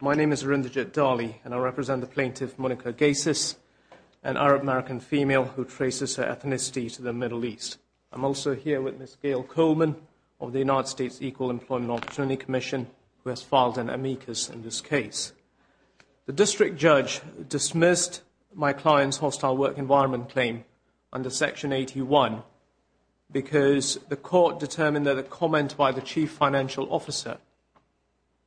My name is Arundhat Dhali and I represent the plaintiff Monica Guessous, an Arab-American female who traces her ethnicity to the Middle East. I'm also here with Ms. Gayle Coleman of the United States Equal Employment Opportunity Commission, who has filed an amicus in this case. The district judge dismissed my client's hostile work environment claim under Section 81 because the court determined that a comment by the chief financial officer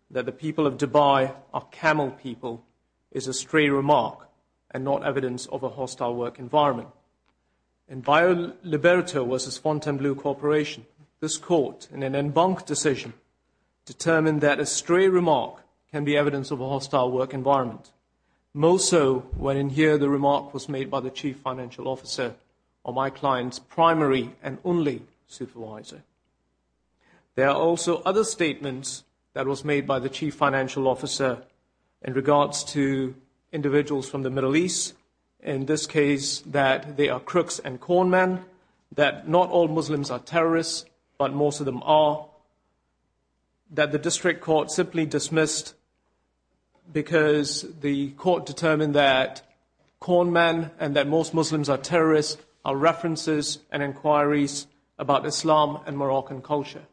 that the people of Dubai are camel people is a stray remark and not evidence of a hostile work environment. In BioLiberto v. Fontainebleau Corporation, this court, in an embunked decision, determined that a stray remark can be evidence of a hostile work environment. More so when in here the remark was made by the chief financial officer or my client's primary and only supervisor. There are also other statements that was made by the chief financial officer in regards to individuals from the Middle East, in this case that they are crooks and corn men, that not all Muslims are terrorists, but most of them are, that the district court simply dismissed because the court determined that corn men and that most Muslims are terrorists are references and inquiries about Islam and Moroccan culture.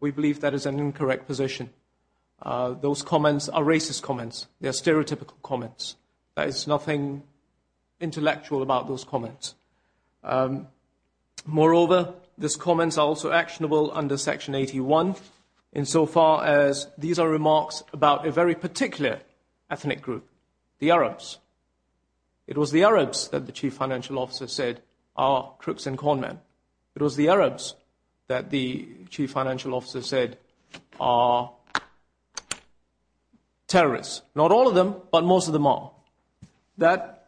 We believe that is an incorrect position. Those comments are racist comments. They are stereotypical comments. Moreover, these comments are also actionable under Section 81 in so far as these are remarks about a very particular ethnic group, the Arabs. It was the Arabs that the chief financial officer said are crooks and corn men. It was the Arabs that the chief financial officer said are terrorists. Not all of them, but most of them are. That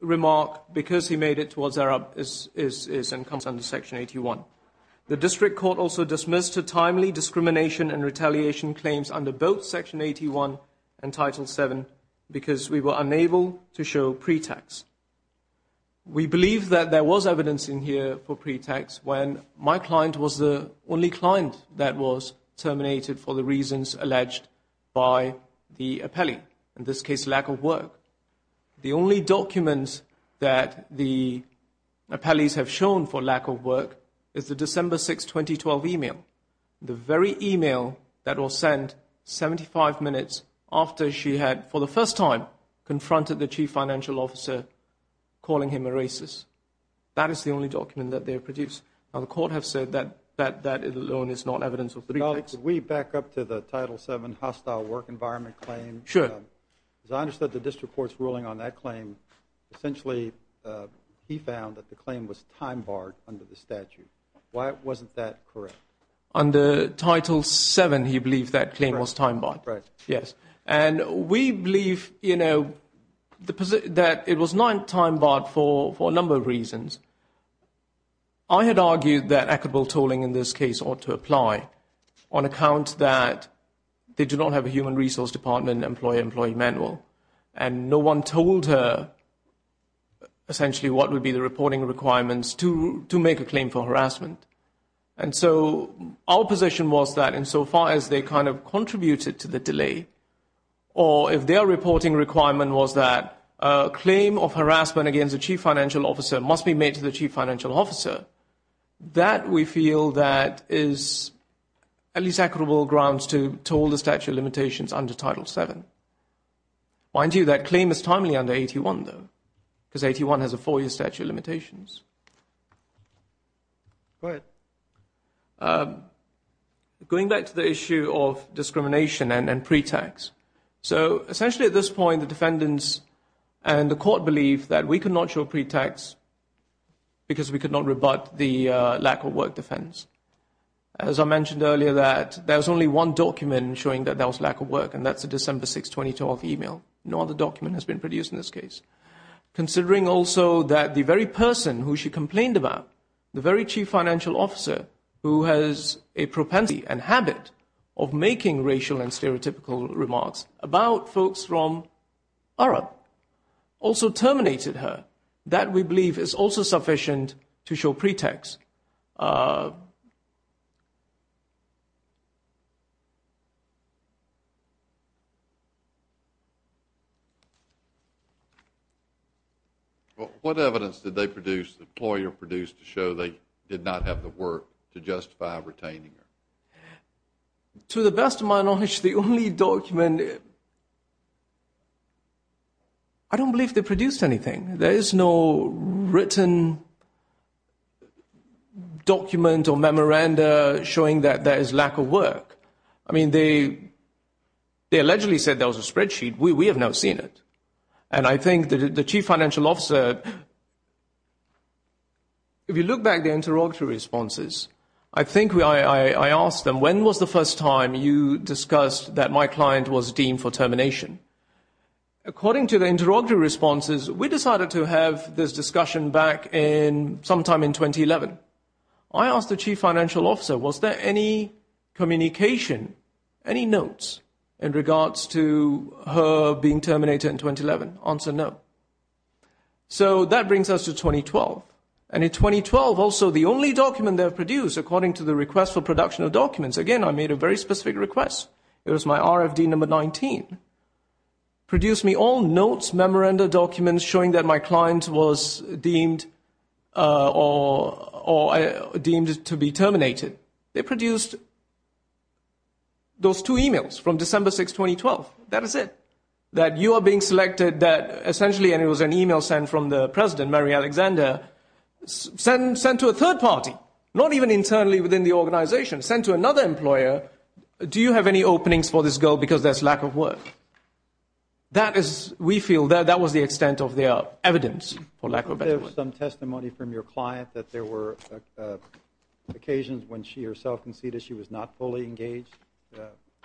remark, because he made it towards Arabs, is and comes under Section 81. The district court also dismissed a timely discrimination and retaliation claims under both Section 81 and Title 7 because we were unable to show pretext. We believe that there was evidence in here for pretext when my client was the only client that was terminated for the reasons alleged by the appellee. In this case, lack of work. The only document that the appellees have shown for lack of work is the December 6, 2012 email. The very email that was sent 75 minutes after she had, for the first time, confronted the chief financial officer calling him a racist. That is the only document that they have produced. Now, the court has said that that alone is not evidence of pretext. Could we back up to the Title 7 hostile work environment claim? Sure. As I understood the district court's ruling on that claim, essentially he found that the claim was time-barred under the statute. Why wasn't that correct? Under Title 7, he believed that claim was time-barred. Right. Yes. And we believe, you know, that it was not time-barred for a number of reasons. I had argued that equitable tolling in this case ought to apply on account that they do not have a human resource department, employer-employee manual. And no one told her, essentially, what would be the reporting requirements to make a claim for harassment. And so our position was that insofar as they kind of contributed to the delay, or if their reporting requirement was that a claim of harassment against a chief financial officer must be made to the chief financial officer, that we feel that is at least equitable grounds to toll the statute of limitations under Title 7. Mind you, that claim is timely under 81, though, because 81 has a four-year statute of limitations. Go ahead. Going back to the issue of discrimination and pre-tax, so essentially at this point the defendants and the court believed that we could not show pre-tax because we could not rebut the lack-of-work defense. As I mentioned earlier, that there was only one document showing that there was lack of work, and that's the December 6, 2012 email. No other document has been produced in this case. Considering also that the very person who she complained about, the very chief financial officer, who has a propensity and habit of making racial and stereotypical remarks about folks from Arab, also terminated her. That, we believe, is also sufficient to show pre-tax. What evidence did the employer produce to show they did not have the work to justify retaining her? To the best of my knowledge, the only document, I don't believe they produced anything. There is no written document or memoranda showing that there is lack of work. I mean, they allegedly said there was a spreadsheet. We have not seen it. And I think the chief financial officer, if you look back at the interrogatory responses, I think I asked them, when was the first time you discussed that my client was deemed for termination? According to the interrogatory responses, we decided to have this discussion back sometime in 2011. I asked the chief financial officer, was there any communication, any notes, in regards to her being terminated in 2011? Answer, no. So that brings us to 2012. And in 2012, also the only document they have produced, according to the request for production of documents, again, I made a very specific request. It was my RFD number 19. Produced me all notes, memoranda, documents showing that my client was deemed to be terminated. They produced those two e-mails from December 6, 2012. That is it. That you are being selected that essentially, and it was an e-mail sent from the president, Mary Alexander, sent to a third party, not even internally within the organization, sent to another employer. Do you have any openings for this girl because there's lack of work? That is, we feel that that was the extent of the evidence, for lack of a better word. Was there some testimony from your client that there were occasions when she herself conceded she was not fully engaged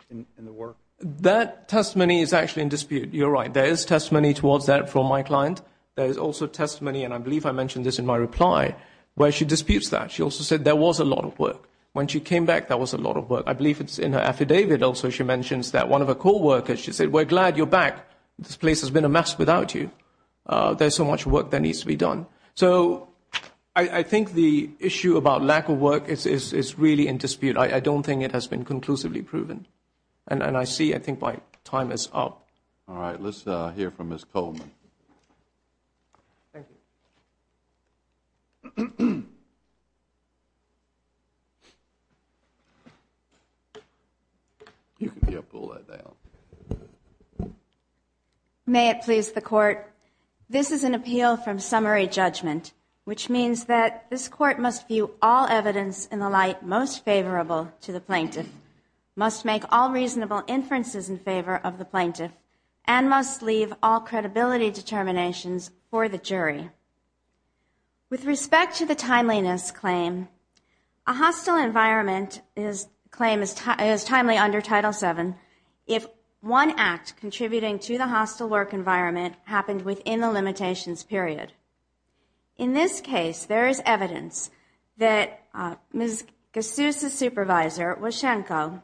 in the work? That testimony is actually in dispute. You're right. There is testimony towards that from my client. There is also testimony, and I believe I mentioned this in my reply, where she disputes that. She also said there was a lot of work. When she came back, there was a lot of work. I believe it's in her affidavit also she mentions that one of her coworkers, she said, we're glad you're back. This place has been a mess without you. There's so much work that needs to be done. So I think the issue about lack of work is really in dispute. I don't think it has been conclusively proven. And I see, I think my time is up. All right. Let's hear from Ms. Coleman. Thank you. May it please the Court, this is an appeal from summary judgment, which means that this Court must view all evidence in the light most favorable to the plaintiff, must make all reasonable inferences in favor of the plaintiff, and must leave all credibility determinations for the jury. With respect to the timeliness claim, a hostile environment claim is timely under Title VII if one act contributing to the hostile work environment happened within the limitations period. In this case, there is evidence that Ms. Gassus' supervisor, Wyshenko,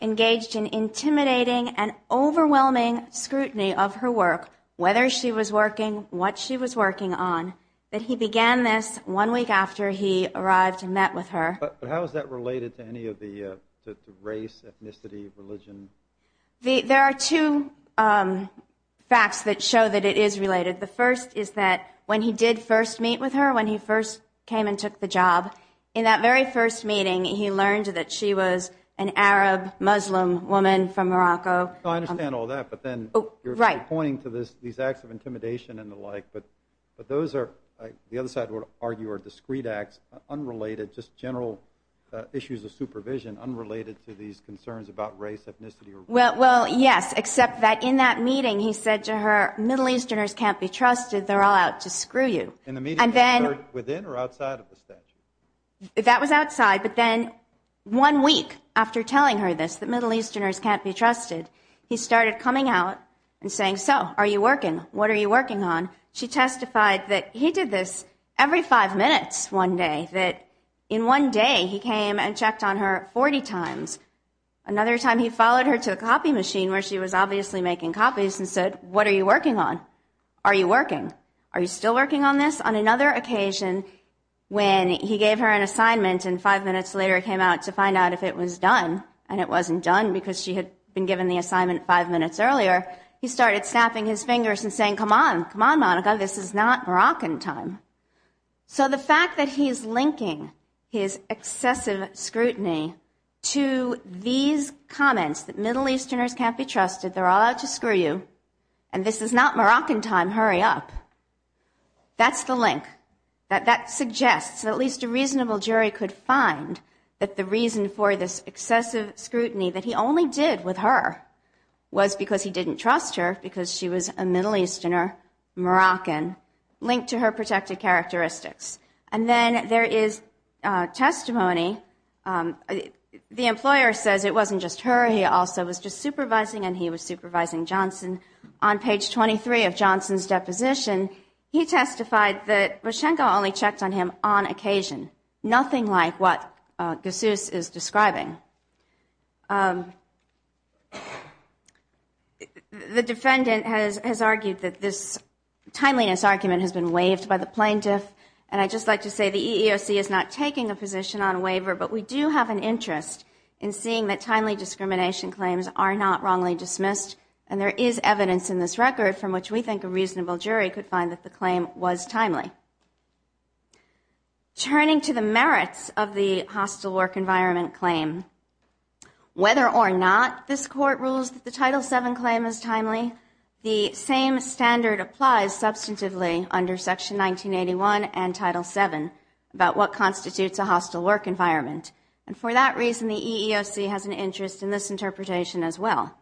engaged in intimidating and overwhelming scrutiny of her work, whether she was working, what she was working on, that he began this one week after he arrived and met with her. But how is that related to any of the race, ethnicity, religion? There are two facts that show that it is related. The first is that when he did first meet with her, when he first came and took the job, in that very first meeting he learned that she was an Arab Muslim woman from Morocco. I understand all that, but then you're pointing to these acts of intimidation and the like, but those are, the other side would argue, are discrete acts, unrelated, just general issues of supervision unrelated to these concerns about race, ethnicity, or religion. Well, yes, except that in that meeting he said to her, Middle Easterners can't be trusted, they're all out to screw you. And the meeting was within or outside of the statute? That was outside, but then one week after telling her this, that Middle Easterners can't be trusted, he started coming out and saying, so, are you working? What are you working on? She testified that he did this every five minutes one day, that in one day he came and checked on her 40 times. Another time he followed her to the copy machine where she was obviously making copies and said, what are you working on? Are you working? Are you still working on this? On another occasion when he gave her an assignment and five minutes later came out to find out if it was done, and it wasn't done because she had been given the assignment five minutes earlier, he started snapping his fingers and saying, come on, come on, Monica, this is not Moroccan time. So the fact that he's linking his excessive scrutiny to these comments that Middle Easterners can't be trusted, they're all out to screw you, and this is not Moroccan time, hurry up, that's the link. That suggests that at least a reasonable jury could find that the reason for this excessive scrutiny that he only did with her was because he didn't trust her because she was a Middle Easterner, Moroccan, linked to her protected characteristics. And then there is testimony, the employer says it wasn't just her, he also was just supervising, and he was supervising Johnson. On page 23 of Johnson's deposition, he testified that Rochenko only checked on him on occasion, nothing like what Gassus is describing. The defendant has argued that this timeliness argument has been waived by the plaintiff, and I'd just like to say the EEOC is not taking a position on waiver, but we do have an interest in seeing that timely discrimination claims are not wrongly dismissed, and there is evidence in this record from which we think a reasonable jury could find that the claim was timely. Turning to the merits of the hostile work environment claim, whether or not this Court rules that the Title VII claim is timely, the same standard applies substantively under Section 1981 and Title VII about what constitutes a hostile work environment, and for that reason the EEOC has an interest in this interpretation as well.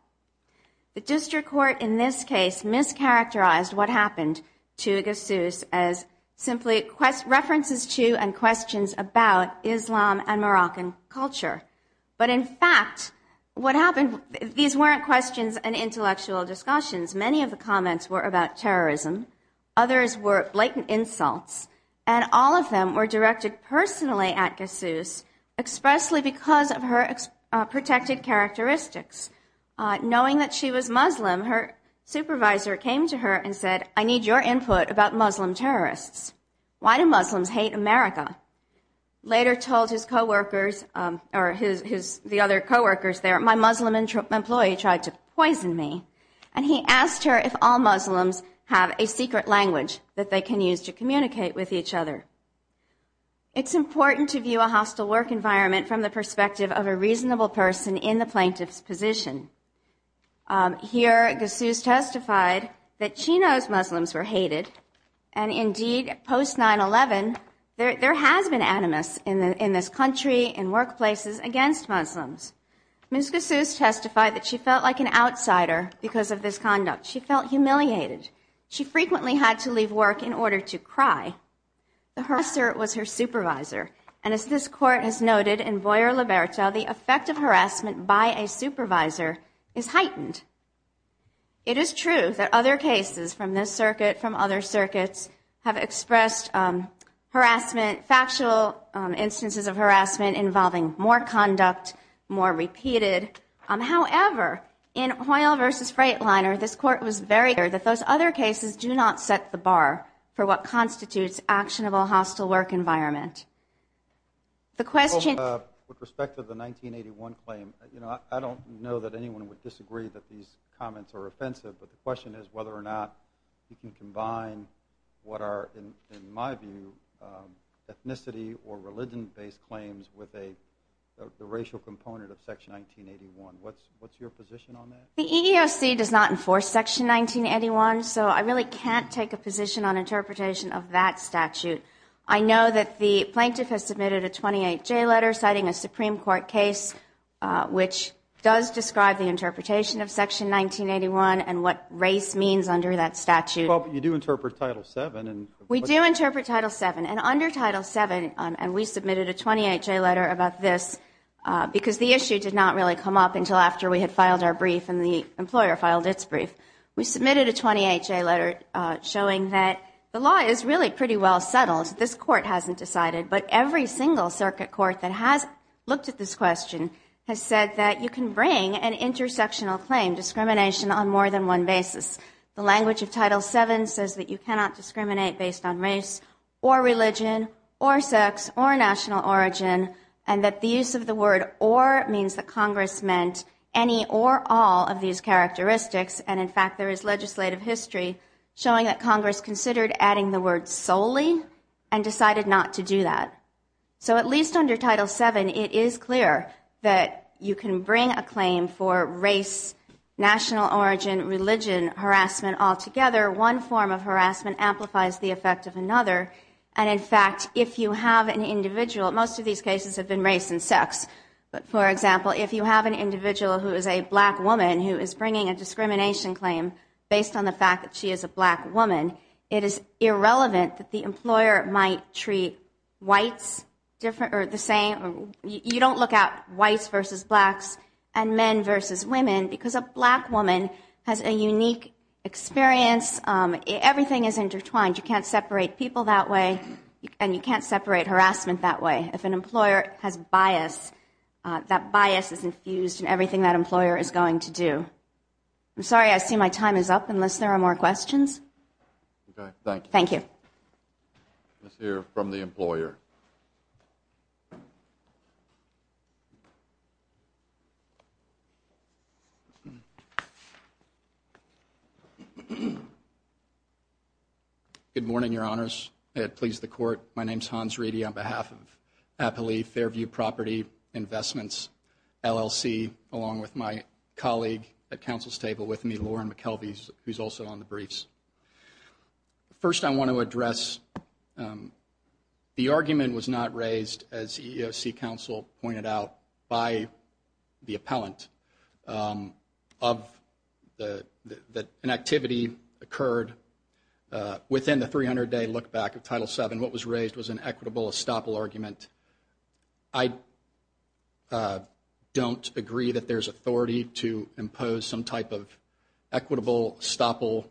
The district court in this case mischaracterized what happened to Gassus as simply references to and questions about Islam and Moroccan culture, but in fact what happened, these weren't questions and intellectual discussions, many of the comments were about terrorism, others were blatant insults, and all of them were directed personally at Gassus, expressly because of her protected characteristics. Knowing that she was Muslim, her supervisor came to her and said, I need your input about Muslim terrorists. Why do Muslims hate America? Later told his co-workers, or the other co-workers there, my Muslim employee tried to poison me, and he asked her if all Muslims have a secret language that they can use to communicate with each other. It's important to view a hostile work environment from the perspective of a reasonable person in the plaintiff's position. Here Gassus testified that she knows Muslims were hated, and indeed post 9-11 there has been animus in this country and workplaces against Muslims. Ms. Gassus testified that she felt like an outsider because of this conduct. She felt humiliated. She frequently had to leave work in order to cry. The harasser was her supervisor, and as this Court has noted in Boyer-Liberto, the effect of harassment by a supervisor is heightened. It is true that other cases from this circuit, from other circuits, have expressed harassment, factual instances of harassment involving more conduct, more repeated. However, in Hoyle v. Freightliner, this Court was very clear that those other cases do not set the bar for what constitutes actionable hostile work environment. With respect to the 1981 claim, I don't know that anyone would disagree that these comments are offensive, but the question is whether or not you can combine what are, in my view, ethnicity or religion-based claims with the racial component of Section 1981. What's your position on that? The EEOC does not enforce Section 1981, so I really can't take a position on interpretation of that statute. I know that the plaintiff has submitted a 28-J letter citing a Supreme Court case which does describe the interpretation of Section 1981 and what race means under that statute. We do interpret Title VII, and under Title VII, and we submitted a 28-J letter about this, because the issue did not really come up until after we had filed our brief and the employer filed its brief. We submitted a 28-J letter showing that the law is really pretty well settled. This Court hasn't decided, but every single circuit court that has looked at this question has said that you can bring an intersectional claim, discrimination, on more than one basis. The language of Title VII says that you cannot discriminate based on race or religion or sex or national origin, and that the use of the word or means that Congress meant any or all of these characteristics, and in fact, there is legislative history showing that Congress considered adding the word solely and decided not to do that. So at least under Title VII, it is clear that you can bring a claim for race, national origin, religion, harassment altogether. One form of harassment amplifies the effect of another, and in fact, if you have an individual, most of these cases have been race and sex, but for example, if you have an individual who is a black woman who is bringing a discrimination claim based on the fact that she is a black woman, it is irrelevant that the employer might treat whites the same. You don't look at whites versus blacks and men versus women, because a black woman has a unique experience. Everything is intertwined. You can't separate people that way, and you can't separate harassment that way. If an employer has bias, that bias is infused in everything that employer is going to do. I'm sorry, I see my time is up unless there are more questions. Thank you. Let's hear from the employer. Good morning, Your Honors. May it please the Court, my name is Hans Reedy on behalf of Appalachia Fairview Property Investments, LLC, along with my colleague at counsel's table with me, Lauren McKelvey, who is also on the briefs. First, I want to address the argument was not raised, as EEOC counsel pointed out, by the appellant, that an activity occurred within the 300-day look-back of Title VII. What was raised was an equitable estoppel argument. I don't agree that there's authority to impose some type of equitable estoppel,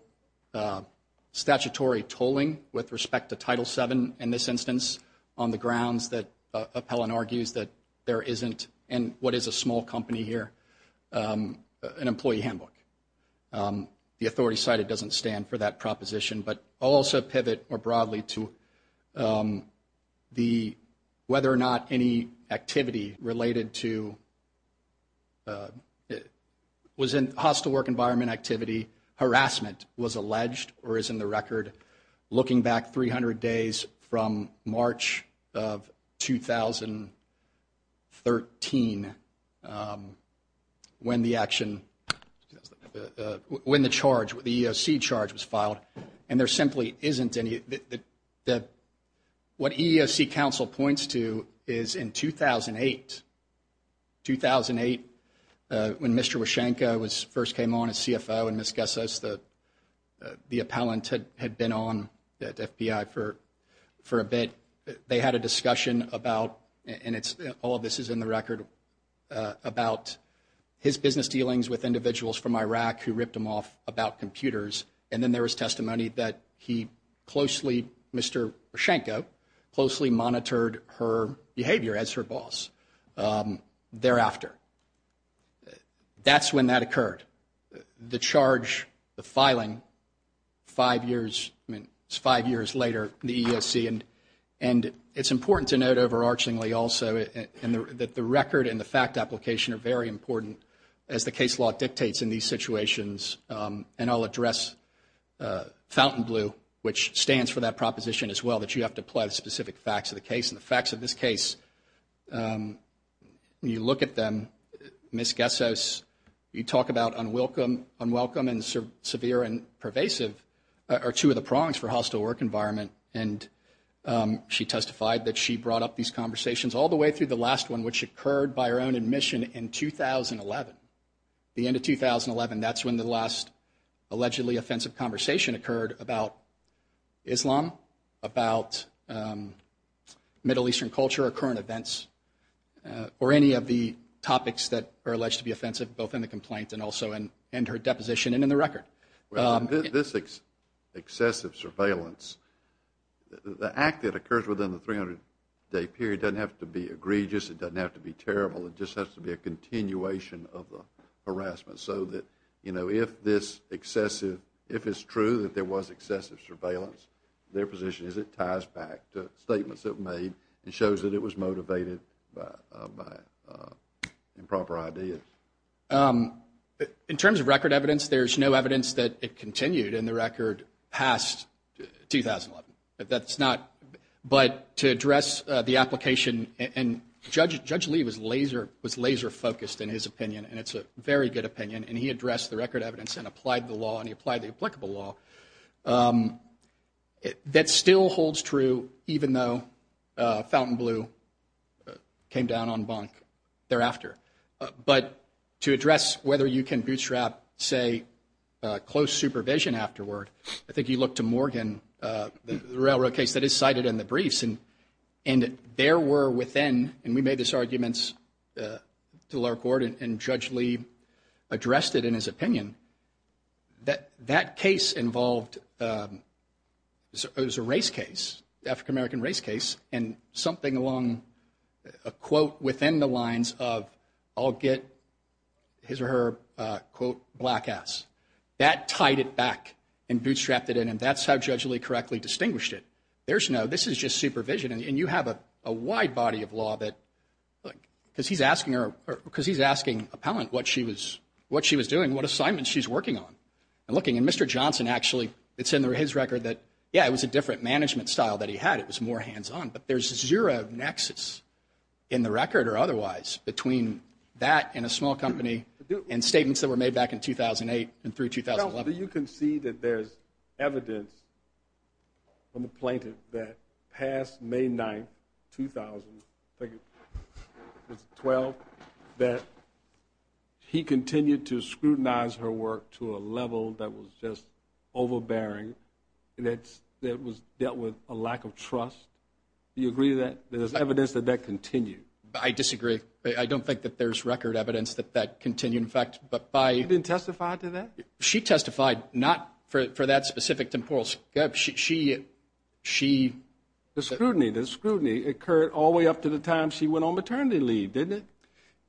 statutory tolling with respect to Title VII in this instance, on the grounds that appellant argues that there isn't, in what is a small company here, an employee handbook. The authority cited doesn't stand for that proposition, but I'll also pivot more broadly to whether or not any activity related to, was in hostile work environment activity, harassment, was alleged, or is in the record, looking back 300 days from March of 2013, when the charge, the EEOC charge was filed. And there simply isn't any. What EEOC counsel points to is in 2008. When Mr. Wyshenko first came on as CFO and Ms. Gessos, the appellant had been on at FBI for a bit, they had a discussion about, and all of this is in the record, about his business dealings with individuals from Iraq who ripped him off about computers. And then there was testimony that he closely, Mr. Wyshenko, closely monitored her behavior as her boss. Thereafter, that's when that occurred. The charge, the filing, five years, I mean, it's five years later, the EEOC. And it's important to note overarchingly also that the record and the fact application are very important as the case law dictates in these situations. And I'll address Fountainbleu, which stands for that proposition as well, that you have to apply the specific facts of the case. And the facts of this case, when you look at them, Ms. Gessos, you talk about unwelcome and severe and pervasive are two of the prongs for hostile work environment. And she testified that she brought up these conversations all the way through the last one, which occurred by her own admission in 2011. The end of 2011, that's when the last allegedly offensive conversation occurred about Islam, about Middle Eastern culture or current events or any of the topics that are alleged to be offensive, both in the complaint and also in her deposition and in the record. This excessive surveillance, the act that occurs within the 300-day period doesn't have to be egregious. It doesn't have to be terrible. It just has to be a continuation of the harassment so that if it's true that there was excessive surveillance, their position is it ties back to statements that were made and shows that it was motivated by improper ideas. In terms of record evidence, there's no evidence that it continued in the record past 2011. But to address the application, and Judge Lee was laser focused in his opinion, and it's a very good opinion, and he addressed the record evidence and applied the law, and he applied the applicable law, that still holds true even though Fountain Blue came down on bunk thereafter. But to address whether you can bootstrap, say, close supervision afterward, I think you look to Morgan, the railroad case that is cited in the briefs, and there were within, and we made these arguments to the lower court, and Judge Lee addressed it in his opinion, that that case involved, it was a race case, African-American race case, and something along a quote within the lines of, I'll get his or her, quote, black ass. That tied it back and bootstrapped it in, and that's how Judge Lee correctly distinguished it. There's no, this is just supervision, and you have a wide body of law that, look, because he's asking her, because he's asking appellant what she was doing, what assignment she's working on. And looking, and Mr. Johnson actually, it's in his record that, yeah, it was a different management style that he had, it was more hands on, but there's zero nexus in the record or otherwise between that and a small company and statements that were made back in 2008 and through 2011. You can see that there's evidence on the plaintiff that past May 9th, 2012, that he continued to scrutinize her work to a level that was just overbearing, that was dealt with a lack of trust. Do you agree with that? There's evidence that that continued. I disagree. I don't think that there's record evidence that that continued, in fact, but by... You didn't testify to that? She testified, not for that specific temporal, she... The scrutiny, the scrutiny occurred all the way up to the time she went on maternity leave, didn't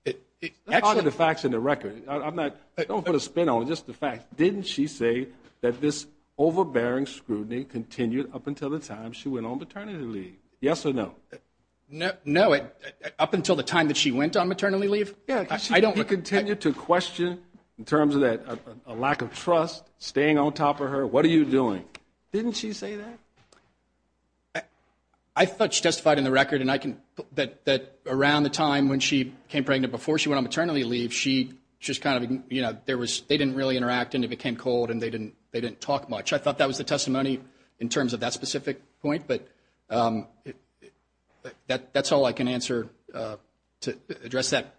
it? It's part of the facts in the record. Don't put a spin on it, just the facts. Didn't she say that this overbearing scrutiny continued up until the time she went on maternity leave? Yes or no? No, up until the time that she went on maternity leave? He continued to question in terms of that lack of trust, staying on top of her, what are you doing? Didn't she say that? I thought she testified in the record that around the time when she became pregnant, before she went on maternity leave, they didn't really interact and it became cold and they didn't talk much. I thought that was the testimony in terms of that specific point, but that's all I can answer to address that.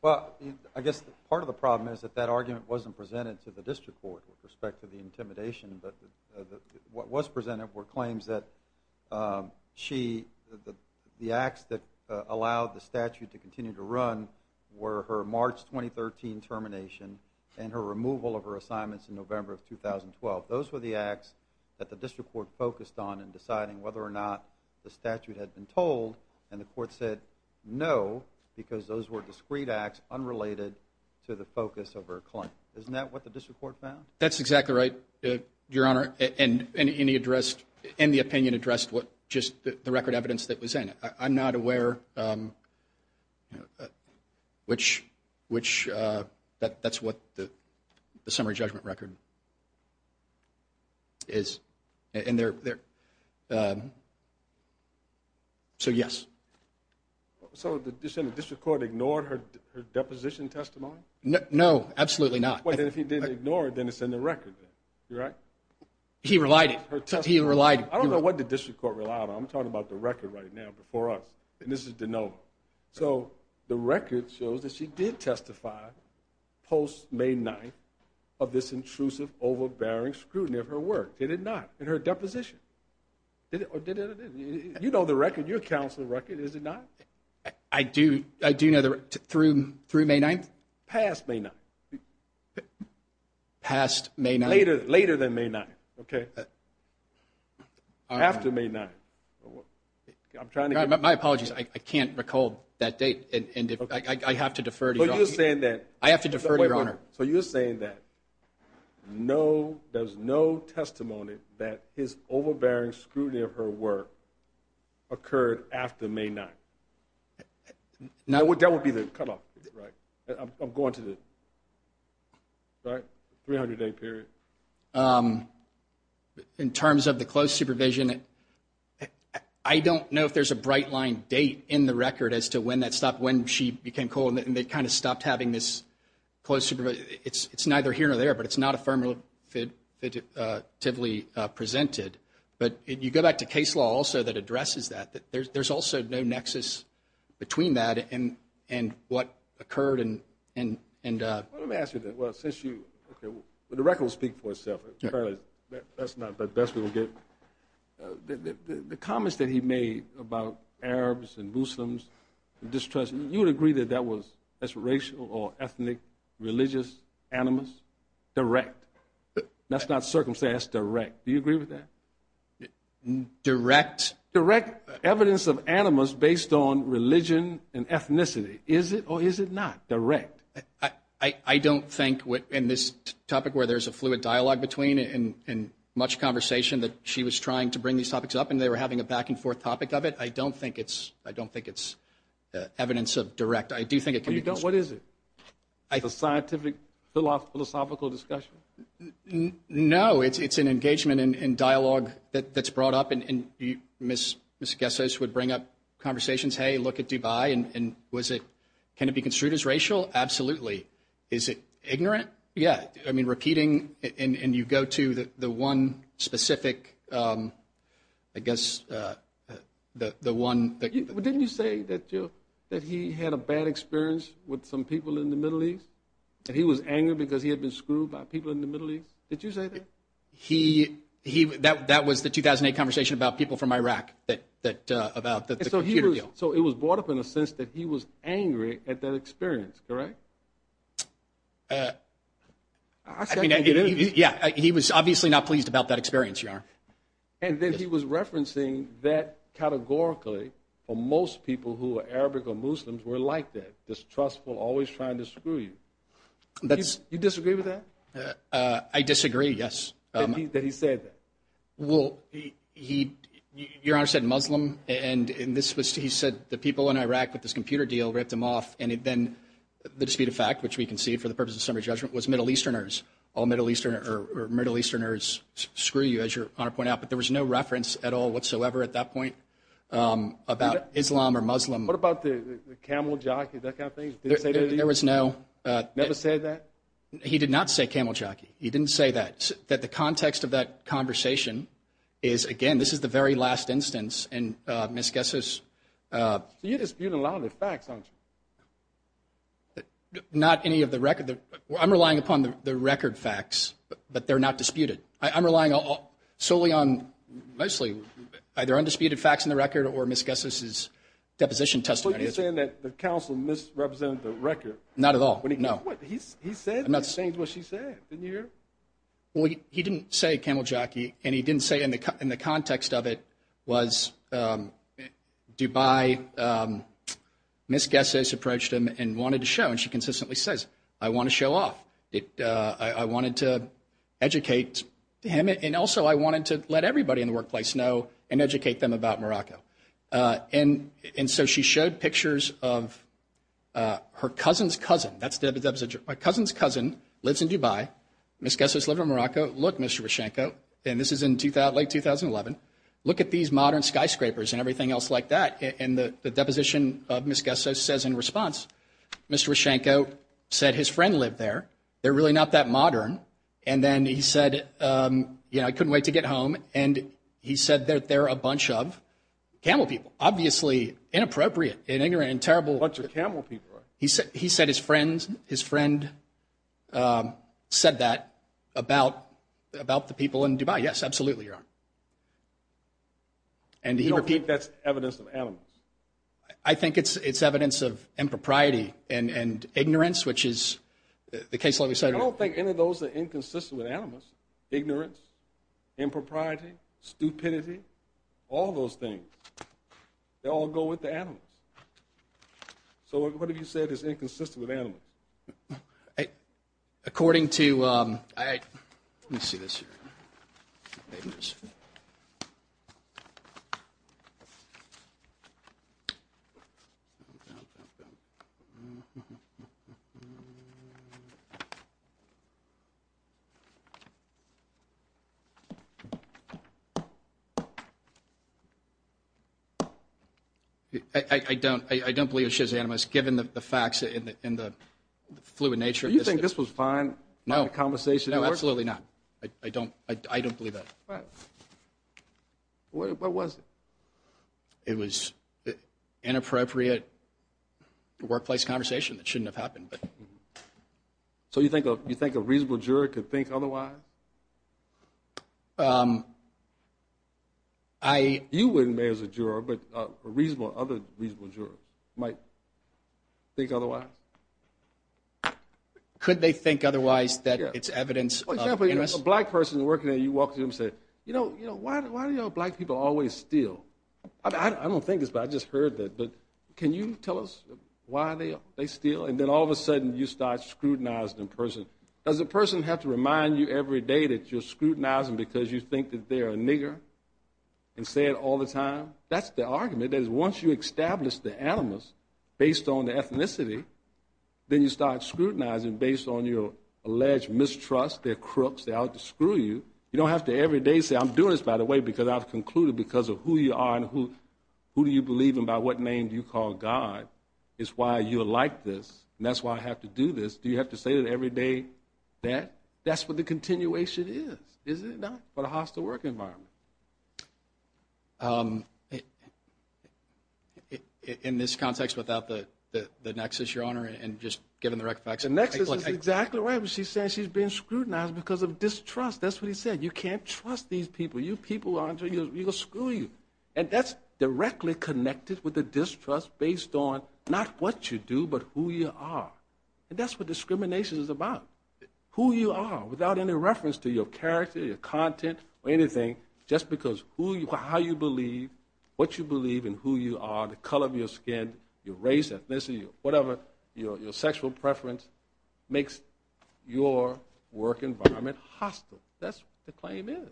Well, I guess part of the problem is that that argument wasn't presented to the district court with respect to the intimidation, but what was presented were claims that the acts that allowed the statute to continue to run were her March 2013 termination and her removal of her assignments in November of 2012. Those were the acts that the district court focused on in deciding whether or not the statute had been told and the court said no because those were discrete acts unrelated to the focus of her claim. Isn't that what the district court found? That's exactly right, Your Honor, and the opinion addressed just the record evidence that was in it. I'm not aware which, that's what the summary judgment record is. So yes. So the district court ignored her deposition testimony? No, absolutely not. If he didn't ignore it, then it's in the record. I don't know what the district court relied on. I'm talking about the record right now before us, and this is DeNova. So the record shows that she did testify post-May 9th of this intrusive, overbearing scrutiny of her work. Did it not? In her deposition? You know the record. It's on your counsel's record, is it not? Through May 9th? Past May 9th. Later than May 9th. After May 9th. My apologies. I can't recall that date. I have to defer to Your Honor. So you're saying that there's no testimony that his overbearing scrutiny of her work occurred after May 9th? That would be the cutoff, right? I'm going to the 300-day period. In terms of the close supervision, I don't know if there's a bright-line date in the record as to when that stopped, when she became coal, and they kind of stopped having this close supervision. It's neither here nor there, but it's not affirmatively presented. But you go back to case law also that addresses that. There's also no nexus between that and what occurred. Let me ask you that. The record will speak for itself. The comments that he made about Arabs and Muslims, distrust, you would agree that that was racial or ethnic, religious, animus, direct? That's not circumstance, direct. Do you agree with that? Direct evidence of animus based on religion and ethnicity. Is it or is it not direct? I don't think in this topic where there's a fluid dialogue between and much conversation that she was trying to bring these topics up and they were having a back-and-forth topic of it, I don't think it's evidence of direct. What is it? A scientific philosophical discussion? No, it's an engagement and dialogue that's brought up. And Ms. Gessos would bring up conversations, hey, look at Dubai. Can it be construed as racial? Absolutely. Is it ignorant? Yeah. Repeating and you go to the one specific, I guess, the one. Didn't you say that he had a bad experience with some people in the Middle East? That he was angry because he had been screwed by people in the Middle East? Did you say that? He that that was the 2008 conversation about people from Iraq that that about that. So he was so it was brought up in a sense that he was angry at that experience. Correct. Yeah. He was obviously not pleased about that experience. And then he was referencing that categorically for most people who are Arabic or Muslims were like that. Distrustful, always trying to screw you. You disagree with that? I disagree. Yes. That he said that. Well, he your honor said Muslim. And this was he said the people in Iraq with this computer deal ripped him off. And then the dispute of fact, which we can see for the purpose of summary judgment, was Middle Easterners. All Middle Eastern or Middle Easterners screw you, as your honor point out. But there was no reference at all whatsoever at that point about Islam or Muslim. What about the camel jockey, that kind of thing? Never said that. He did not say camel jockey. He didn't say that, that the context of that conversation is, again, this is the very last instance and misguesses. So you dispute a lot of the facts, don't you? Not any of the record. I'm relying upon the record facts, but they're not disputed. I'm relying solely on mostly either undisputed facts in the record or misguesses deposition testimony. So you're saying that the counsel misrepresented the record? Not at all. He didn't say camel jockey. And he didn't say in the context of it was Dubai misguesses approached him and wanted to show. And she consistently says, I want to show off. I wanted to educate him. And also I wanted to let everybody in the workplace know and educate them about Morocco. And so she showed pictures of her cousin's cousin. That's my cousin's cousin lives in Dubai. Misguesses live in Morocco. Look, Mr. Roshanko, and this is in late 2011. Look at these modern skyscrapers and everything else like that. And the deposition of misguesses says in response, Mr. Roshanko said his friend lived there. They're really not that modern. And then he said, you know, I couldn't wait to get home. And he said that they're a bunch of camel people. Obviously inappropriate and ignorant and terrible. He said he said his friends, his friend said that about about the people in Dubai. Yes, absolutely. And I think that's evidence of animals. I think it's evidence of impropriety and ignorance, which is the case. I don't think any of those are inconsistent with animals. Ignorance, impropriety, stupidity, all those things. They all go with the animals. So what have you said is inconsistent with animals? According to I see this. I don't I don't believe it's just animals, given the facts in the fluid nature. You think this was fine? No conversation? No, absolutely not. I don't I don't believe that. What was it? It was inappropriate workplace conversation that shouldn't have happened. So you think you think a reasonable juror could think otherwise? I you wouldn't as a juror, but a reasonable other reasonable juror might think otherwise. Could they think otherwise that it's evidence of a black person working there? You walk to him, say, you know, you know, why do you know black people always steal? I don't think it's but I just heard that. But can you tell us why they steal? And then all of a sudden you start scrutinized in person as a person have to remind you every day that you're scrutinizing because you think that they're a nigger and say it all the time. That's the argument is once you establish the animals based on the ethnicity, then you start scrutinizing based on your alleged mistrust. They're crooks out to screw you. You don't have to every day. I'm doing this, by the way, because I've concluded because of who you are and who who do you believe about what name you call God is why you like this. And that's why I have to do this. Do you have to say it every day that that's what the continuation is? Is it not for the hostile work environment? In this context, without the the nexus, your honor, and just given the right facts. And that's exactly what she said. She's been scrutinized because of distrust. That's what he said. You can't trust these people. You people are going to screw you. And that's directly connected with the distrust based on not what you do, but who you are. And that's what discrimination is about, who you are without any reference to your character, your content or anything, just because who you are, how you believe, what you believe and who you are, the color of your skin, your race, ethnicity, whatever. Your sexual preference makes your work environment hostile. That's the claim is.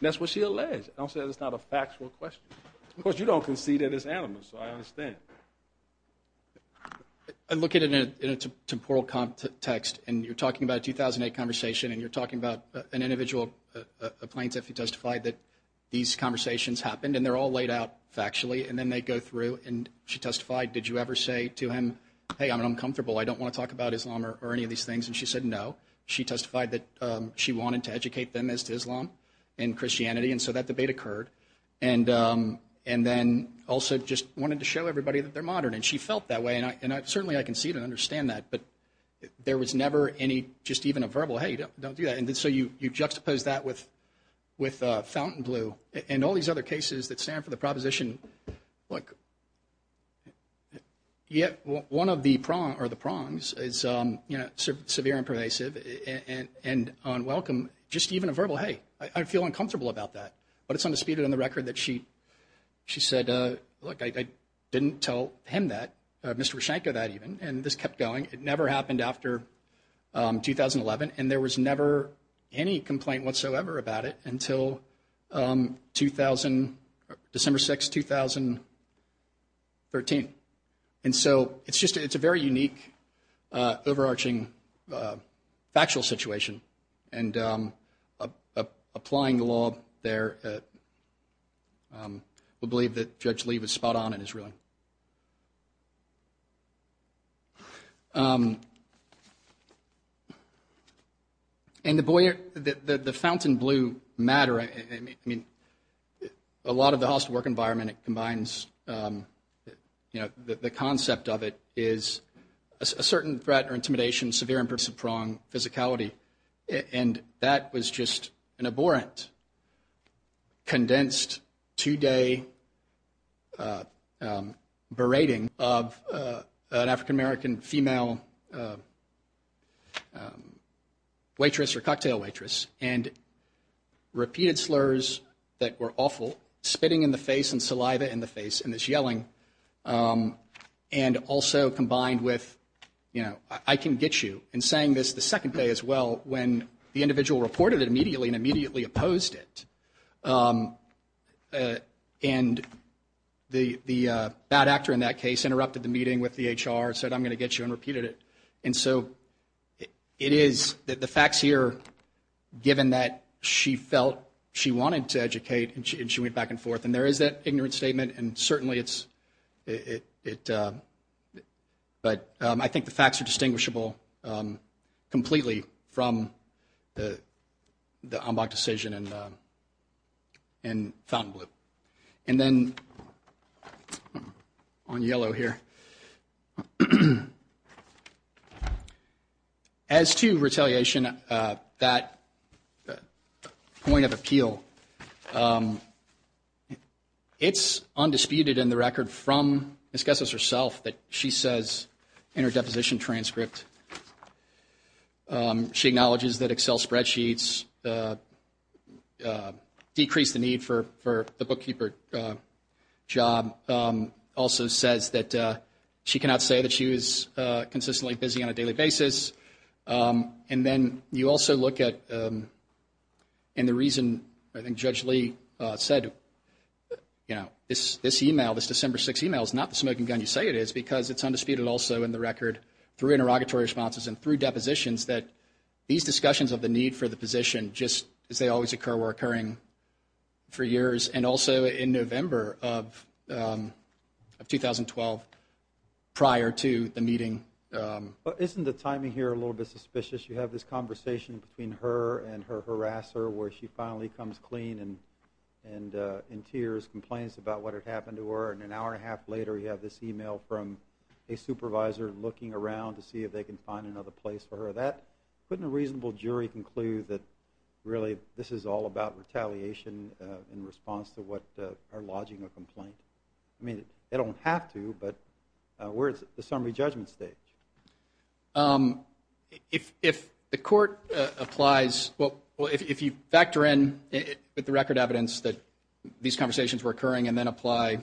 That's what she alleged. I'll say it's not a factual question. Of course, you don't concede that it's animals. So I understand. I look at it in a temporal context and you're talking about 2008 conversation and you're talking about an individual plaintiff who testified that these conversations happened and they're all laid out factually and then they go through and she testified. Did you ever say to him, hey, I'm uncomfortable. I don't want to talk about Islam or any of these things. And she said no. She testified that she wanted to educate them as to Islam and Christianity. And so that debate occurred. And and then also just wanted to show everybody that they're modern. And she felt that way. And I certainly I can see it and understand that. But there was never any just even a verbal, hey, don't do that. And so you juxtapose that with with fountain glue and all these other cases that stand for the proposition. Look. Yet one of the prong or the prongs is, you know, severe and pervasive and unwelcome. Just even a verbal, hey, I feel uncomfortable about that. But it's undisputed on the record that she she said, look, I didn't tell him that Mr. Shanko that even and this kept going. It never happened after 2011. And there was never any complaint whatsoever about it until 2000, December 6, 2013. And so it's just it's a very unique, overarching, factual situation. And applying the law there. We believe that Judge Lee was spot on in his ruling. And the boy, the fountain blue matter, I mean, a lot of the host work environment combines, you know, the concept of it is a certain threat or intimidation, severe and pervasive prong physicality. And that was just an abhorrent, condensed two day berating of an African-American female waitress or cocktail waitress. And repeated slurs that were awful, spitting in the face and saliva in the face and this yelling. And also combined with, you know, I can get you and saying this the second day as well, when the individual reported it immediately and immediately opposed it. And the bad actor in that case interrupted the meeting with the HR said, I'm going to get you and repeated it. And so it is that the facts here, given that she felt she wanted to educate and she went back and forth. And there is that ignorant statement. And certainly it's it. But I think the facts are distinguishable completely from the decision. And. And found blue and then on yellow here. As to retaliation, that point of appeal. It's undisputed in the record from discusses herself that she says in her deposition transcript. She acknowledges that Excel spreadsheets decrease the need for for the bookkeeper job. Also says that she cannot say that she was consistently busy on a daily basis. And then you also look at. And the reason I think Judge Lee said, you know, this this email, this December six emails, not the smoking gun, you say it is because it's undisputed. Also in the record through interrogatory responses and through depositions that these discussions of the need for the position, just as they always occur, were occurring for years and also in November of of 2012 prior to the meeting. But isn't the timing here a little bit suspicious? You have this conversation between her and her harasser where she finally comes clean and and in tears, complains about what had happened to her in an hour and a half later. You have this email from a supervisor looking around to see if they can find another place for that. Couldn't a reasonable jury conclude that really this is all about retaliation in response to what are lodging a complaint? I mean, they don't have to. But where is the summary judgment state? If if the court applies. Well, if you factor in the record evidence that these conversations were occurring and then apply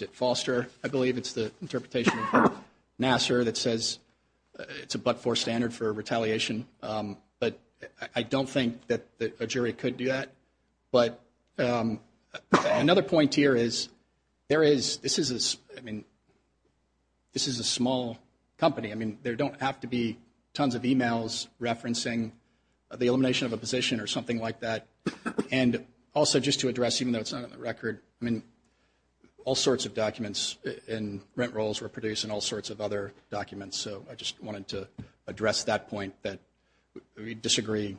it foster, I believe it's the interpretation of Nassar that says it's a but for standard for retaliation. But I don't think that a jury could do that. But another point here is there is this is this. I mean, this is a small company. I mean, there don't have to be tons of emails referencing the elimination of a position or something like that. And also just to address, even though it's not on the record. I mean, all sorts of documents and rent rolls were produced and all sorts of other documents. So I just wanted to address that point that we disagree.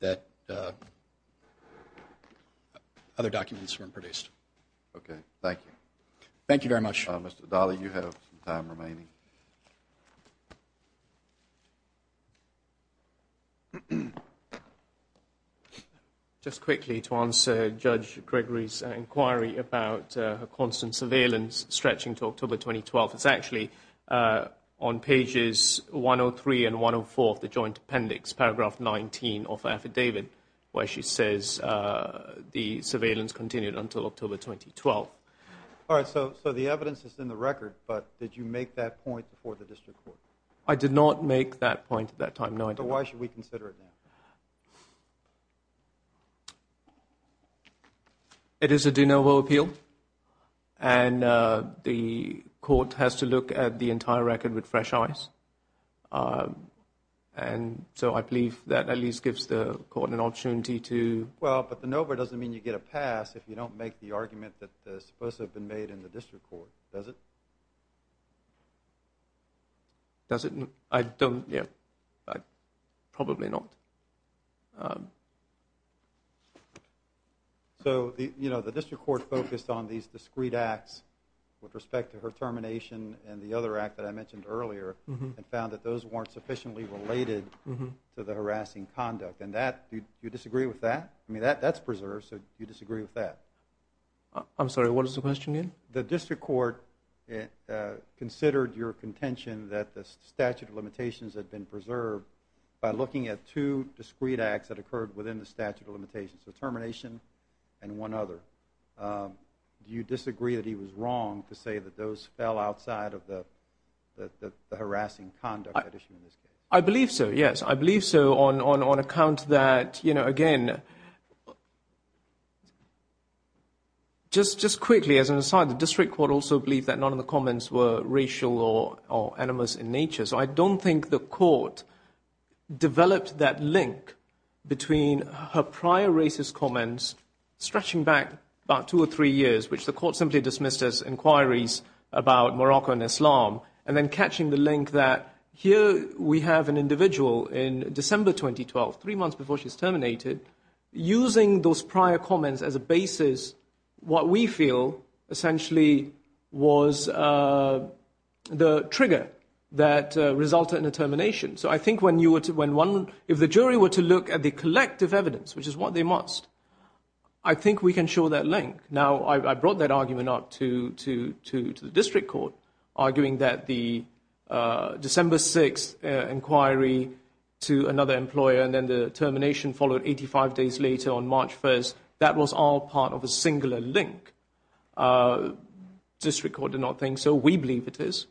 That other documents weren't produced. OK, thank you. Thank you very much. Mr. Dolly, you have time remaining. Thank you. Just quickly to answer Judge Gregory's inquiry about a constant surveillance stretching to October 2012, it's actually on pages one or three and one of four of the joint appendix, paragraph 19 of affidavit, where she says the surveillance continued until October 2012. All right. So the evidence is in the record. But did you make that point before the district court? I did not make that point at that time. So why should we consider it now? It is a de novo appeal. And the court has to look at the entire record with fresh eyes. And so I believe that at least gives the court an opportunity to. Well, but de novo doesn't mean you get a pass if you don't make the argument that's supposed to have been made in the district court, does it? Does it? I don't, yeah. Probably not. So, you know, the district court focused on these discreet acts with respect to her termination and the other act that I mentioned earlier and found that those weren't sufficiently related to the harassing conduct. And that, do you disagree with that? I mean, that's preserved. So do you disagree with that? I'm sorry, what was the question again? The district court considered your contention that the statute of limitations had been preserved by looking at two discreet acts that occurred within the statute of limitations, the termination and one other. Do you disagree that he was wrong to say that those fell outside of the harassing conduct at issue in this case? I believe so, yes. I believe so on account that, you know, again, just quickly as an aside, the district court also believed that none of the comments were racial or animus in nature. So I don't think the court developed that link between her prior racist comments stretching back about two or three years, which the court simply dismissed as inquiries about Morocco and Islam, and then catching the link that here we have an individual in December 2012, three months before she's terminated, using those prior comments as a basis. What we feel essentially was the trigger that resulted in a termination. So I think if the jury were to look at the collective evidence, which is what they must, I think we can show that link. Now, I brought that argument up to the district court, arguing that the December 6th inquiry to another employer and then the termination followed 85 days later on March 1st, that was all part of a singular link. District court did not think so. We believe it is,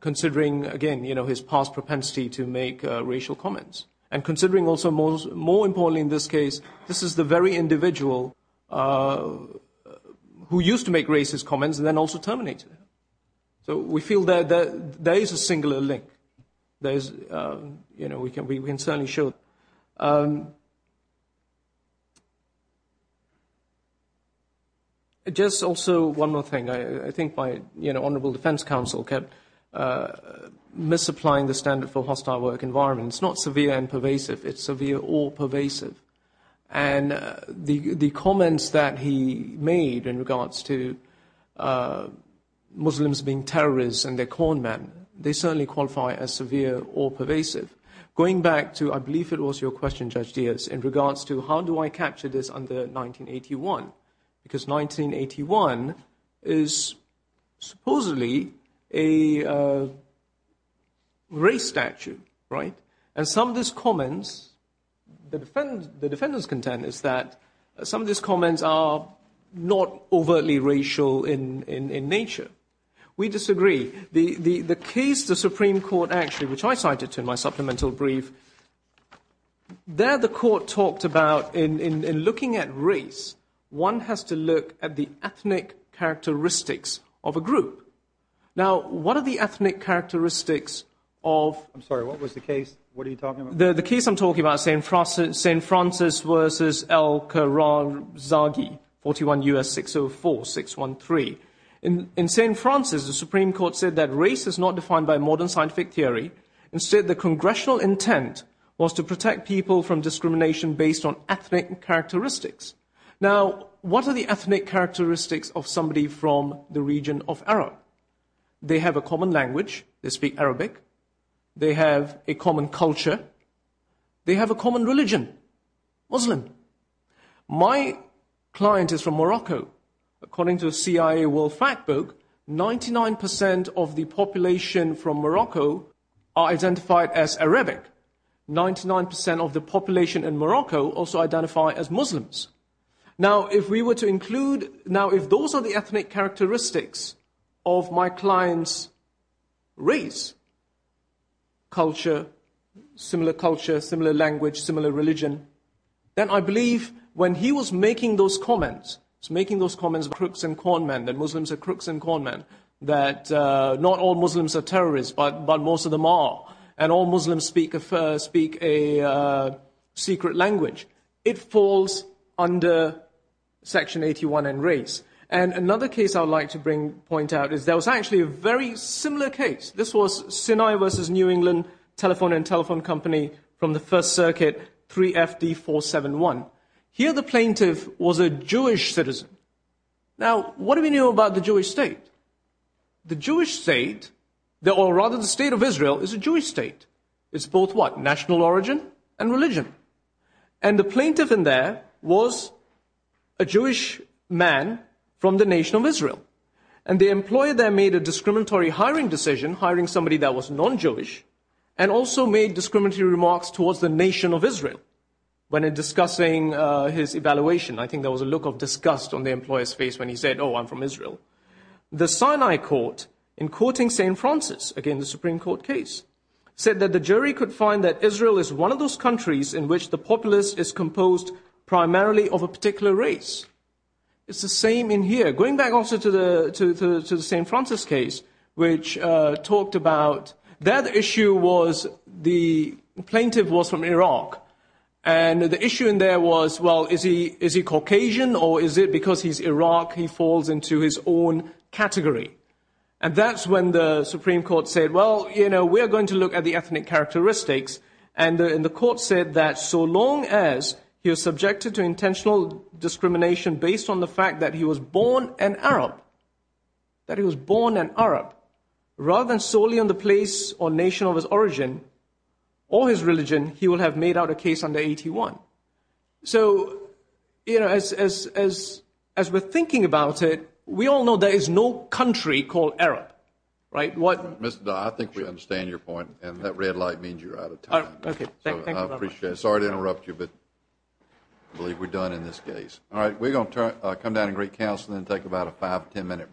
considering, again, you know, his past propensity to make racial comments. And considering also more importantly in this case, this is the very individual who used to make racist comments and then also terminated them. So we feel that there is a singular link. There is, you know, we can certainly show. Just also one more thing. I think my, you know, honorable defense counsel kept misapplying the standard for hostile work environment. It's not severe and pervasive. It's severe or pervasive. And the comments that he made in regards to Muslims being terrorists and they're corn men, they certainly qualify as severe or pervasive. Going back to, I believe it was your question, Judge Diaz, in regards to how do I capture this under 1981? Because 1981 is supposedly a race statute, right? And some of these comments, the defendant's content is that some of these comments are not overtly racial in nature. We disagree. The case the Supreme Court actually, which I cited to in my supplemental brief, there the court talked about in looking at race, one has to look at the ethnic characteristics of a group. Now, what are the ethnic characteristics of? I'm sorry. What was the case? What are you talking about? The case I'm talking about, St. Francis versus Al-Khwarizmi, 41 U.S. 604-613. In St. Francis, the Supreme Court said that race is not defined by modern scientific theory. Instead, the congressional intent was to protect people from discrimination based on ethnic characteristics. Now, what are the ethnic characteristics of somebody from the region of Arab? They have a common language. They speak Arabic. They have a common culture. They have a common religion, Muslim. My client is from Morocco. According to CIA World Factbook, 99% of the population from Morocco are identified as Arabic. 99% of the population in Morocco also identify as Muslims. Now, if we were to include, now if those are the ethnic characteristics of my client's race, culture, similar culture, similar language, similar religion, then I believe when he was making those comments, was making those comments about crooks and corn men, that Muslims are crooks and corn men, that not all Muslims are terrorists, but most of them are, and all Muslims speak a secret language, it falls under Section 81 in race. And another case I would like to point out is there was actually a very similar case. This was Sinai versus New England telephone and telephone company from the First Circuit, 3FD471. Here the plaintiff was a Jewish citizen. Now, what do we know about the Jewish state? The Jewish state, or rather the state of Israel, is a Jewish state. It's both, what, national origin and religion. And the plaintiff in there was a Jewish man from the nation of Israel. And the employer there made a discriminatory hiring decision, hiring somebody that was non-Jewish, and also made discriminatory remarks towards the nation of Israel when discussing his evaluation. I think there was a look of disgust on the employer's face when he said, oh, I'm from Israel. The Sinai court, in courting St. Francis, again the Supreme Court case, said that the jury could find that Israel is one of those countries in which the populace is composed primarily of a particular race. It's the same in here. Going back also to the St. Francis case, which talked about that issue was the plaintiff was from Iraq. And the issue in there was, well, is he Caucasian, or is it because he's Iraq he falls into his own category? And that's when the Supreme Court said, well, you know, we're going to look at the ethnic characteristics. And the court said that so long as he was subjected to intentional discrimination based on the fact that he was born an Arab, that he was born an Arab, rather than solely on the place or nation of his origin or his religion, he would have made out a case under 81. So, you know, as we're thinking about it, we all know there is no country called Arab. Mr. Dodd, I think we understand your point, and that red light means you're out of time. I appreciate it. Sorry to interrupt you, but I believe we're done in this case. All right, we're going to come down and greet counsel and then take about a five, ten minute break.